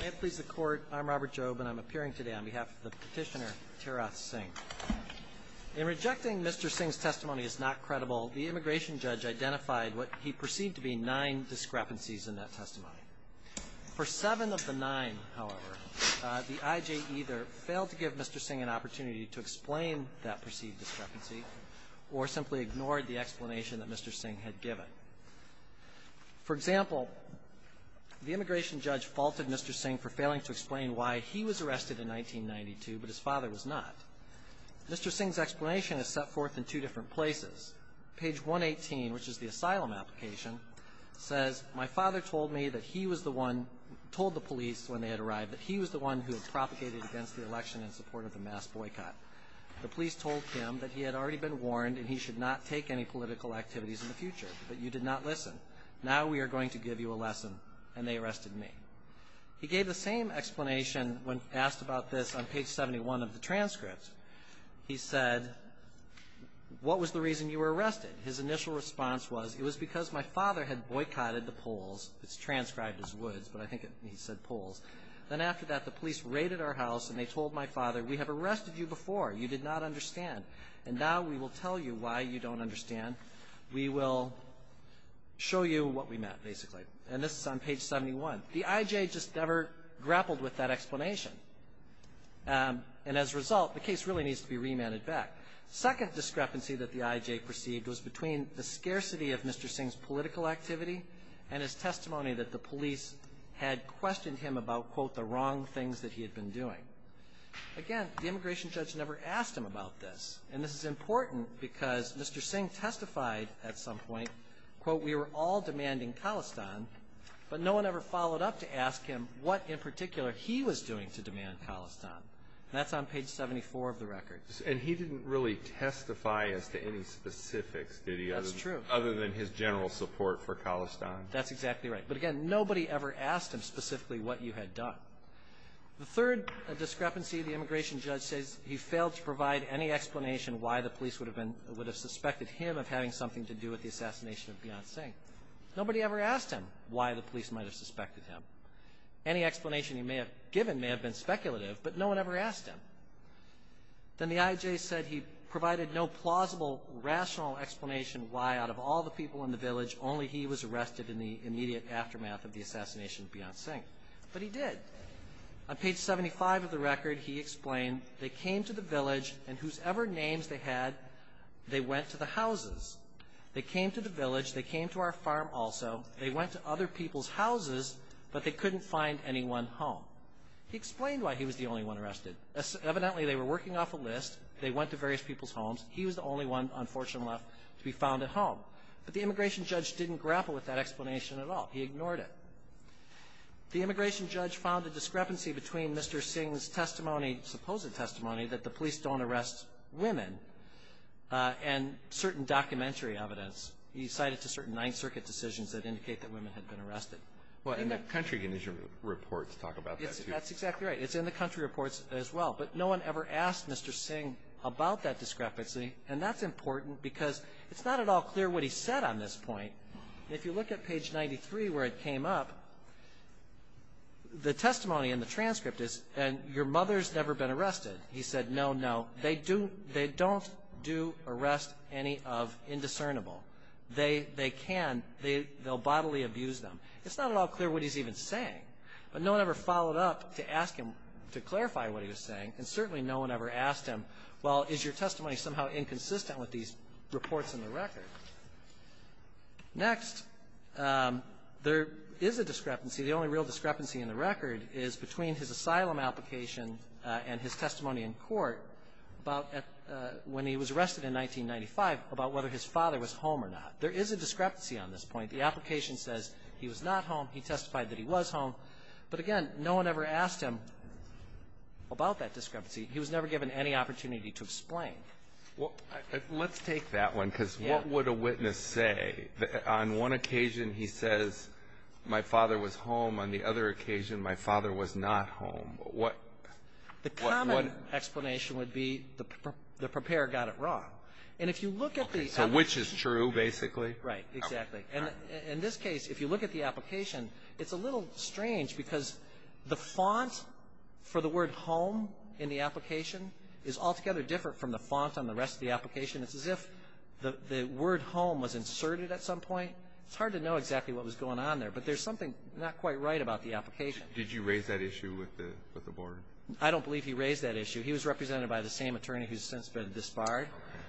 May it please the Court, I'm Robert Jobe, and I'm appearing today on behalf of the Petitioner, Tara Singh. In rejecting Mr. Singh's testimony as not credible, the immigration judge identified what he perceived to be nine discrepancies in that testimony. For seven of the nine, however, the I.J. either failed to give Mr. Singh an opportunity to explain that perceived discrepancy or simply ignored the explanation that Mr. Singh had given. For example, the immigration judge faulted Mr. Singh for failing to explain why he was arrested in 1992, but his father was not. Mr. Singh's explanation is set forth in two different places. Page 118, which is the asylum application, says, My father told me that he was the one, told the police when they had arrived, that he was the one who had propagated against the election in support of the mass boycott. The police told him that he had already been warned and he should not take any political activities in the future, but you did not listen. Now we are going to give you a lesson, and they arrested me. He gave the same explanation when asked about this on page 71 of the transcript. He said, What was the reason you were arrested? His initial response was, It was because my father had boycotted the polls. It's transcribed as woods, but I think he said polls. Then after that, the police raided our house and they told my father, We have arrested you before. You did not understand. And now we will tell you why you don't understand. We will show you what we meant, basically. And this is on page 71. The IJ just never grappled with that explanation. And as a result, the case really needs to be remanded back. Second discrepancy that the IJ perceived was between the scarcity of Mr. Singh's political activity and his testimony that the police had questioned him about, quote, the wrong things that he had been doing. Again, the immigration judge never asked him about this. And this is important because Mr. Singh testified at some point, quote, We were all demanding Khalistan, but no one ever followed up to ask him what in particular he was doing to demand Khalistan. That's on page 74 of the record. And he didn't really testify as to any specifics, did he? That's true. Other than his general support for Khalistan. That's exactly right. But again, nobody ever asked him specifically what you had done. The third discrepancy, the immigration judge says he failed to provide any explanation why the police would have suspected him of having something to do with the assassination of Beyoncé. Nobody ever asked him why the police might have suspected him. Any explanation he may have given may have been speculative, but no one ever asked him. Then the IJ said he provided no plausible, rational explanation why, out of all the people in the village, only he was arrested in the immediate aftermath of the assassination of Beyoncé. But he did. On page 75 of the record, he explained, They came to the village, and whosoever names they had, they went to the houses. They came to the village. They came to our farm also. They went to other people's houses, but they couldn't find anyone home. He explained why he was the only one arrested. Evidently, they were working off a list. They went to various people's homes. He was the only one, unfortunately, left to be found at home. But the immigration judge didn't grapple with that explanation at all. He ignored it. The immigration judge found a discrepancy between Mr. Singh's testimony, supposed testimony, that the police don't arrest women, and certain documentary evidence. He cited certain Ninth Circuit decisions that indicate that women had been arrested. And the country reports talk about that, too. That's exactly right. It's in the country reports as well. But no one ever asked Mr. Singh about that discrepancy. And that's important because it's not at all clear what he said on this point. If you look at page 93 where it came up, the testimony in the transcript is, Your mother's never been arrested. He said, No, no. They don't do arrest any of indiscernible. They can. They'll bodily abuse them. It's not at all clear what he's even saying. But no one ever followed up to ask him to clarify what he was saying. And certainly no one ever asked him, Well, is your testimony somehow inconsistent with these reports in the record? Next, there is a discrepancy. The only real discrepancy in the record is between his asylum application and his testimony in court about when he was arrested in 1995 about whether his father was home or not. There is a discrepancy on this point. The application says he was not home. He testified that he was home. But, again, no one ever asked him about that discrepancy. He was never given any opportunity to explain. Well, let's take that one because what would a witness say? On one occasion he says, My father was home. On the other occasion, My father was not home. What? The common explanation would be the preparer got it wrong. And if you look at the application So which is true, basically? Right. Exactly. And in this case, if you look at the application, it's a little strange because the font for the word home in the application is altogether different from the font on the rest of the application. It's as if the word home was inserted at some point. It's hard to know exactly what was going on there. But there's something not quite right about the application. Did you raise that issue with the board? I don't believe he raised that issue. He was represented by the same attorney who's since been disbarred.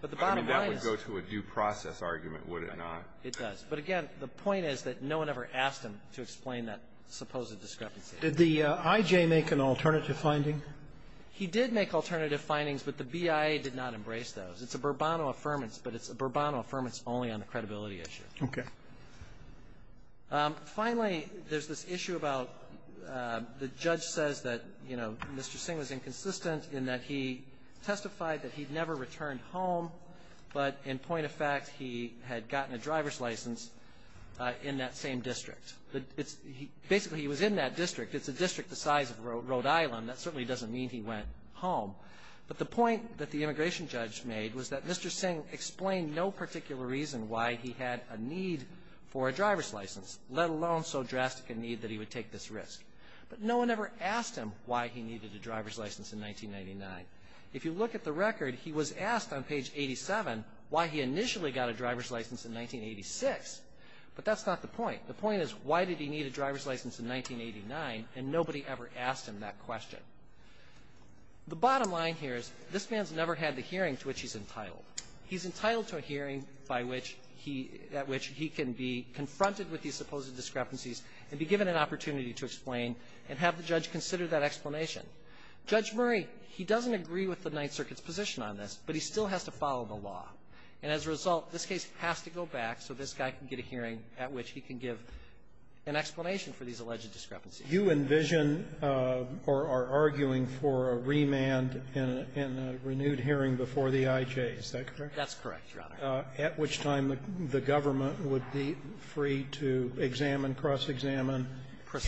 But the bottom line is That would go to a due process argument, would it not? It does. But, again, the point is that no one ever asked him to explain that supposed discrepancy. Did the I.J. make an alternative finding? He did make alternative findings, but the BIA did not embrace those. It's a Bourbonno affirmance, but it's a Bourbonno affirmance only on the credibility issue. Okay. Finally, there's this issue about the judge says that, you know, Mr. Singh was inconsistent in that he testified that he'd never returned home, but in point of fact he had gotten a driver's license in that same district. Basically, he was in that district. It's a district the size of Rhode Island. That certainly doesn't mean he went home. But the point that the immigration judge made was that Mr. Singh explained no particular reason why he had a need for a driver's license, let alone so drastic a need that he would take this risk. But no one ever asked him why he needed a driver's license in 1999. If you look at the record, he was asked on page 87 why he initially got a driver's license in 1986. But that's not the point. The point is why did he need a driver's license in 1989, and nobody ever asked him that question. The bottom line here is this man's never had the hearing to which he's entitled. He's entitled to a hearing by which he at which he can be confronted with these supposed discrepancies and be given an opportunity to explain and have the judge consider that explanation. Judge Murray, he doesn't agree with the Ninth Circuit's position on this, but he still has to follow the law. And as a result, this case has to go back so this guy can get a hearing at which he can give an explanation for these alleged discrepancies. You envision or are arguing for a remand and a renewed hearing before the IJ. Is that correct? That's correct, Your Honor. At which time the government would be free to examine, cross-examine,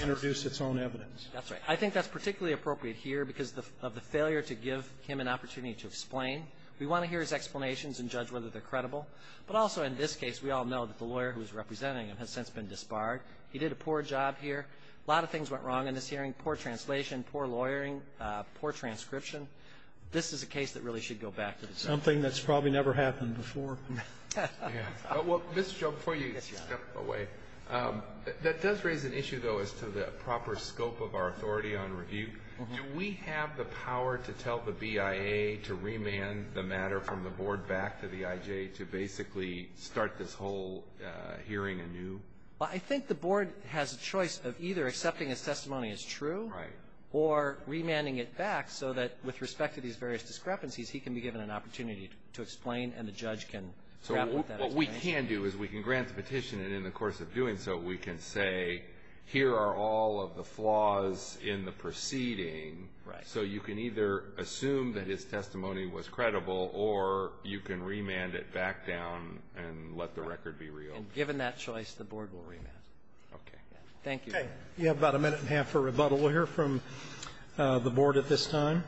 introduce its own evidence. That's right. I think that's particularly appropriate here because of the failure to give him an opportunity to explain. We want to hear his explanations and judge whether they're credible. But also in this case, we all know that the lawyer who was representing him has since been disbarred. He did a poor job here. A lot of things went wrong in this hearing, poor translation, poor lawyering, poor transcription. This is a case that really should go back to the Supreme Court. Something that's probably never happened before. Mr. Joe, before you step away, that does raise an issue, though, as to the proper scope of our authority on review. Do we have the power to tell the BIA to remand the matter from the board back to the IJ to basically start this whole hearing anew? Well, I think the board has a choice of either accepting his testimony as true or remanding it back so that with respect to these various discrepancies, he can be given an opportunity to explain and the judge can grapple with that as well. So what we can do is we can grant the petition, and in the course of doing so, we can say here are all of the flaws in the proceeding. Right. So you can either assume that his testimony was credible or you can remand it back down and let the record be real. And given that choice, the board will remand. Okay. Thank you. Okay. You have about a minute and a half for rebuttal. We'll hear from the board at this time.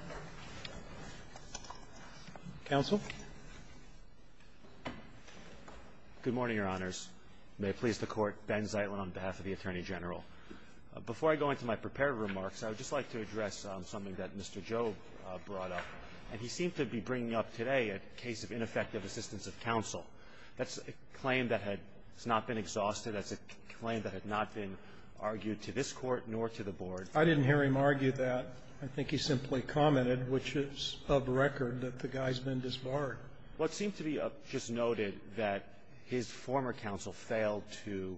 Counsel. Good morning, Your Honors. May it please the Court. Ben Zeitlin on behalf of the Attorney General. Before I go into my prepared remarks, I would just like to address something that Mr. Joe brought up. And he seemed to be bringing up today a case of ineffective assistance of counsel. That's a claim that had not been exhausted. That's a claim that had not been argued to this Court nor to the board. I didn't hear him argue that. I think he simply commented, which is of record, that the guy's been disbarred. Well, it seemed to be just noted that his former counsel failed to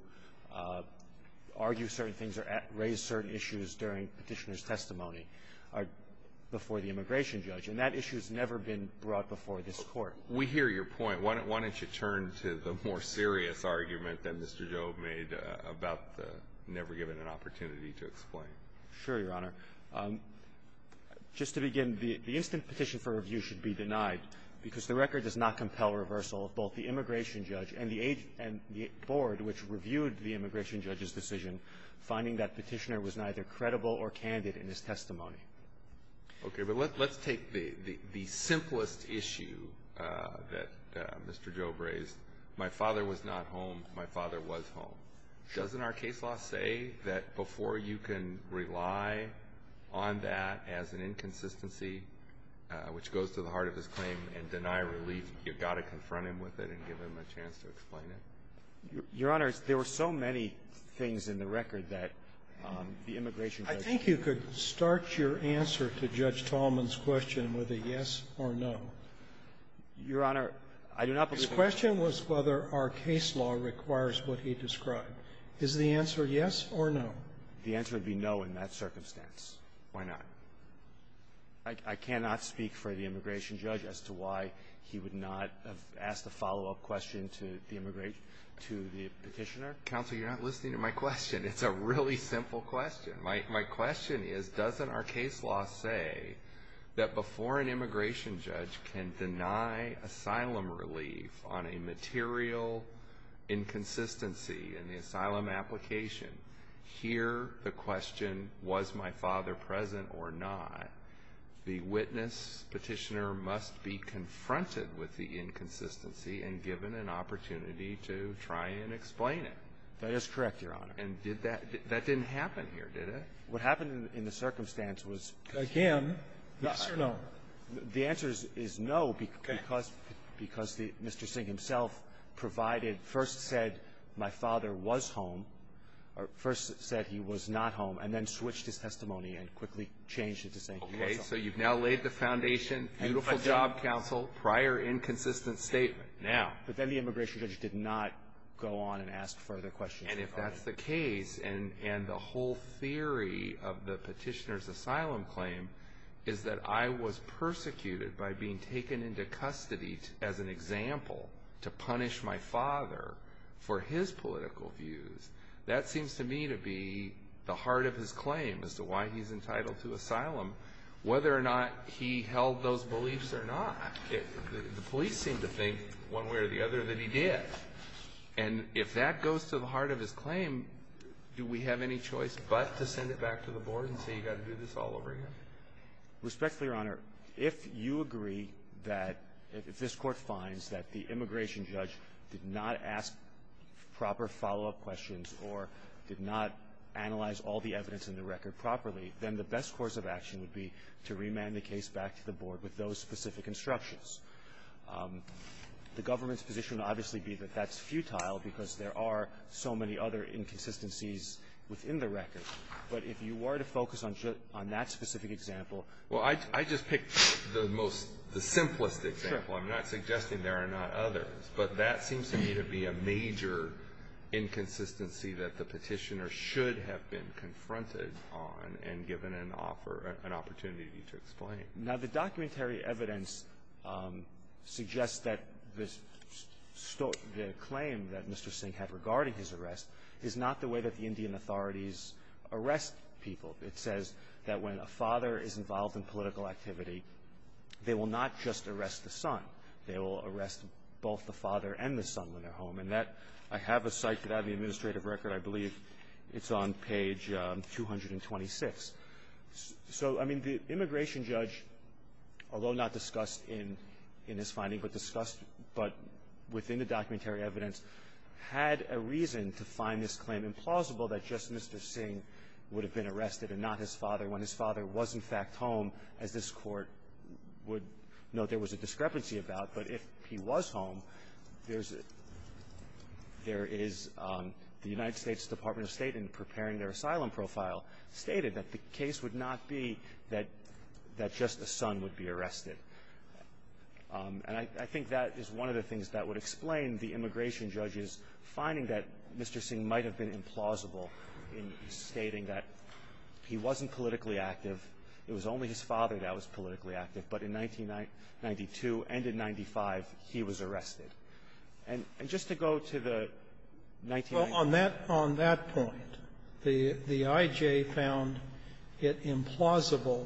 argue certain things or raise certain issues during Petitioner's testimony before the immigration judge, and that issue has never been brought before this Court. We hear your point. Why don't you turn to the more serious argument that Mr. Joe made about the never given an opportunity to explain. Sure, Your Honor. Just to begin, the instant petition for review should be denied because the record does not compel reversal of both the immigration judge and the board, which reviewed the immigration judge's decision, finding that Petitioner was neither credible or candid in his testimony. Okay. But let's take the simplest issue that Mr. Joe raised. My father was not home. My father was home. Doesn't our case law say that before you can rely on that as an inconsistency, which goes to the heart of his claim, and deny relief, you've got to confront him with it and give him a chance to explain it? Your Honor, there were so many things in the record that the immigration judge Do you think you could start your answer to Judge Tallman's question with a yes or no? Your Honor, I do not. The question was whether our case law requires what he described. Is the answer yes or no? The answer would be no in that circumstance. Why not? I cannot speak for the immigration judge as to why he would not have asked a follow-up question to the petitioner. Counsel, you're not listening to my question. It's a really simple question. My question is, doesn't our case law say that before an immigration judge can deny asylum relief on a material inconsistency in the asylum application, hear the question, was my father present or not, the witness petitioner must be confronted with the inconsistency and given an opportunity to try and explain it? That is correct, Your Honor. And did that – that didn't happen here, did it? What happened in the circumstance was – Again, yes or no? The answer is no because – Okay. Because Mr. Singh himself provided – first said my father was home, or first said he was not home, and then switched his testimony and quickly changed it to say he was home. Okay. So you've now laid the foundation, beautiful job, counsel, prior inconsistent statement. Now – But then the immigration judge did not go on and ask further questions. And if that's the case, and the whole theory of the petitioner's asylum claim is that I was persecuted by being taken into custody as an example to punish my father for his political views, that seems to me to be the heart of his claim as to why he's entitled to asylum, whether or not he held those beliefs or not. The police seem to think one way or the other that he did. And if that goes to the heart of his claim, do we have any choice but to send it back to the Board and say you've got to do this all over again? Respectfully, Your Honor, if you agree that – if this Court finds that the immigration judge did not ask proper follow-up questions or did not analyze all the evidence in the record properly, then the best course of action would be to remand the case back to the Board with those specific instructions. The government's position would obviously be that that's futile because there are so many other inconsistencies within the record. But if you were to focus on that specific example – Well, I just picked the most – the simplest example. I'm not suggesting there are not others. But that seems to me to be a major inconsistency that the petitioner should have been confronted on and given an opportunity to explain. Now, the documentary evidence suggests that this claim that Mr. Singh had regarding his arrest is not the way that the Indian authorities arrest people. It says that when a father is involved in political activity, they will not just arrest the son. They will arrest both the father and the son when they're home. And that – I have a site that I have the administrative record. I believe it's on page 226. So, I mean, the immigration judge, although not discussed in his finding but discussed but within the documentary evidence, had a reason to find this claim implausible that just Mr. Singh would have been arrested and not his father when his father was, in fact, home, as this Court would note there was a discrepancy about. But if he was home, there's – there is – the United States Department of State in preparing their asylum profile stated that the case would not be that – that just the son would be arrested. And I think that is one of the things that would explain the immigration judge's finding that Mr. Singh might have been implausible in stating that he wasn't politically active, it was only his father that was politically active, and the I.J. found it implausible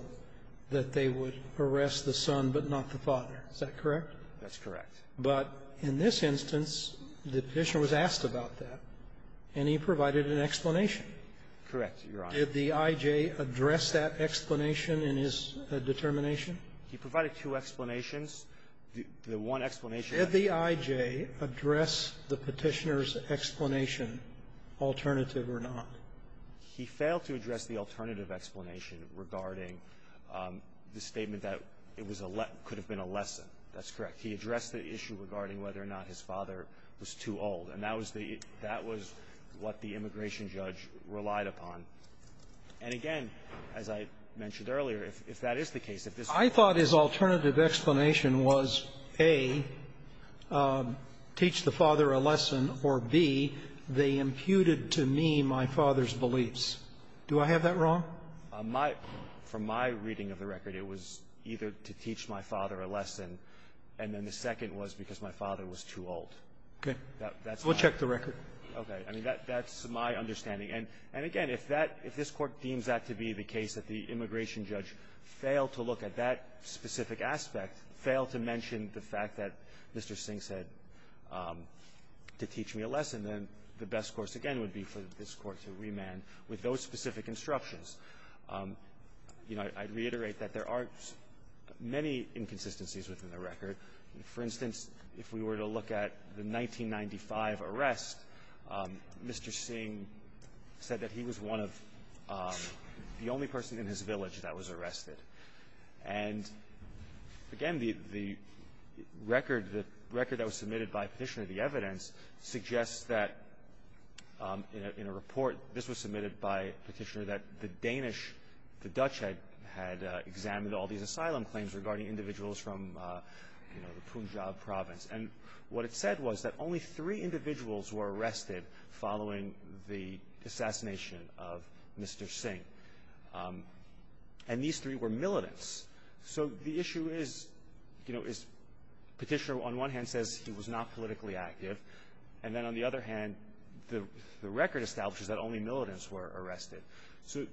that they would arrest the son but not the father. Is that correct? That's correct. But in this instance, the Petitioner was asked about that, and he provided an explanation. Correct, Your Honor. Did the I.J. address that explanation in his determination? The one explanation that he – He failed to address the alternative explanation regarding the statement that it was a – could have been a lesson. That's correct. He addressed the issue regarding whether or not his father was too old. And that was the – that was what the immigration judge relied upon. And again, as I mentioned earlier, if that is the case, if this Court – I thought his alternative explanation was, A, teach the father a lesson, or, B, they were against the father's beliefs. Do I have that wrong? My – from my reading of the record, it was either to teach my father a lesson, and then the second was because my father was too old. Okay. That's my – We'll check the record. Okay. I mean, that's my understanding. And again, if that – if this Court deems that to be the case, that the immigration judge failed to look at that specific aspect, failed to mention the fact that Mr. Singh said to teach me a lesson, then the best course, again, would be for this Court to remand with those specific instructions. You know, I'd reiterate that there are many inconsistencies within the record. For instance, if we were to look at the 1995 arrest, Mr. Singh said that he was one of the only persons in his village that was arrested. And again, the – the record – the record that was submitted by Petitioner of the Evidence suggests that in a – in a report – this was submitted by Petitioner – that the Danish – the Dutch had – had examined all these asylum claims regarding individuals from, you know, the Punjab province. And what it said was that only three individuals were arrested following the assassination of Mr. Singh. And these three were militants. So the issue is – you know, is Petitioner, on one hand, says he was not politically active, and then on the other hand, the – the record establishes that only militants were arrested. So,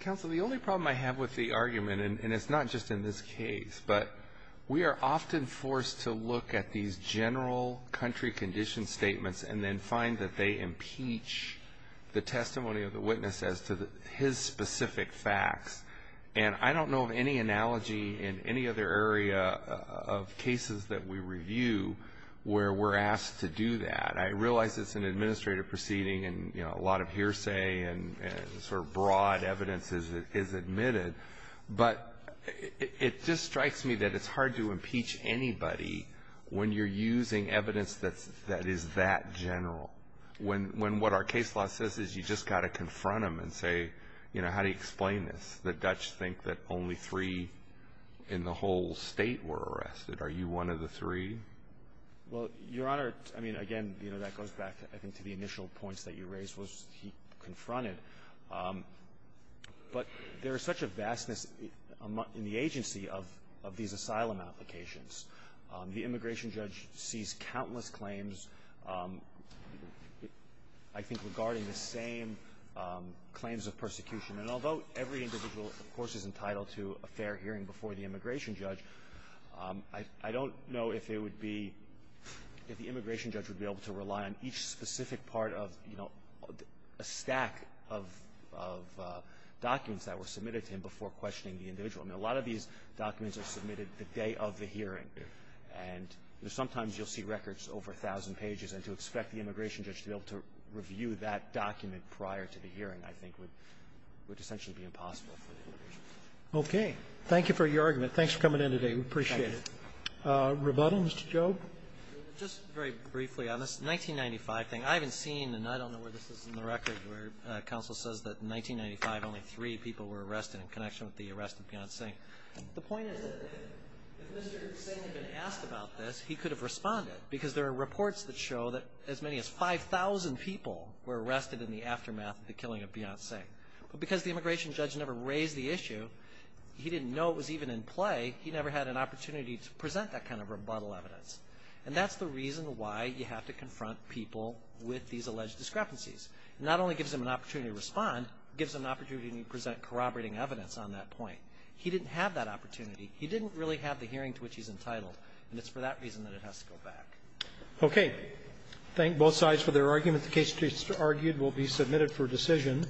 Counsel, the only problem I have with the argument – and it's not just in this case – but we are often forced to look at these general country condition statements and then find that they impeach the testimony of the witness as to his specific facts. And I don't know of any analogy in any other area of cases that we review where we're asked to do that. I realize it's an administrative proceeding and, you know, a lot of hearsay and sort of broad evidence is admitted, but it just strikes me that it's hard to impeach anybody when you're using evidence that's – that is that general. When – when what our case law says is you just got to confront them and say, you know, how do you explain this? The Dutch think that only three in the whole state were arrested. Are you one of the three? Well, Your Honor, I mean, again, you know, that goes back, I think, to the initial points that you raised, was he confronted. But there is such a vastness in the agency of – of these asylum applications. The immigration judge sees countless claims, I think, regarding the same claims of persecution. And although every individual, of course, is entitled to a fair hearing before the immigration judge, I – I don't know if it would be – if the immigration judge would be able to rely on each specific part of, you know, a stack of – of documents that were submitted to him before questioning the individual. I mean, a lot of these documents are submitted the day of the hearing. And sometimes you'll see records over 1,000 pages, and to expect the immigration judge to be able to review that document prior to the hearing, I think, would – would essentially be impossible for the immigration judge. Okay. Thank you for your argument. Thanks for coming in today. We appreciate it. Thank you. Rebuttal, Mr. Jobe? Just very briefly on this 1995 thing. I haven't seen, and I don't know where this is in the record, where counsel says that in 1995, only three people were arrested in connection with the arrest of Beyonce. The point is that if Mr. Singh had been asked about this, he could have responded, because there are reports that show that as many as 5,000 people were arrested in the aftermath of the killing of Beyonce. But because the immigration judge never raised the issue, he didn't know it was even in play, he never had an opportunity to present that kind of rebuttal evidence. And that's the reason why you have to confront people with these alleged discrepancies. It not only gives them an opportunity to respond, it gives them an opportunity to present corroborating evidence on that point. He didn't have that opportunity. He didn't really have the hearing to which he's entitled, and it's for that reason that it has to go back. Okay. Thank both sides for their argument. The case, as argued, will be submitted for decision.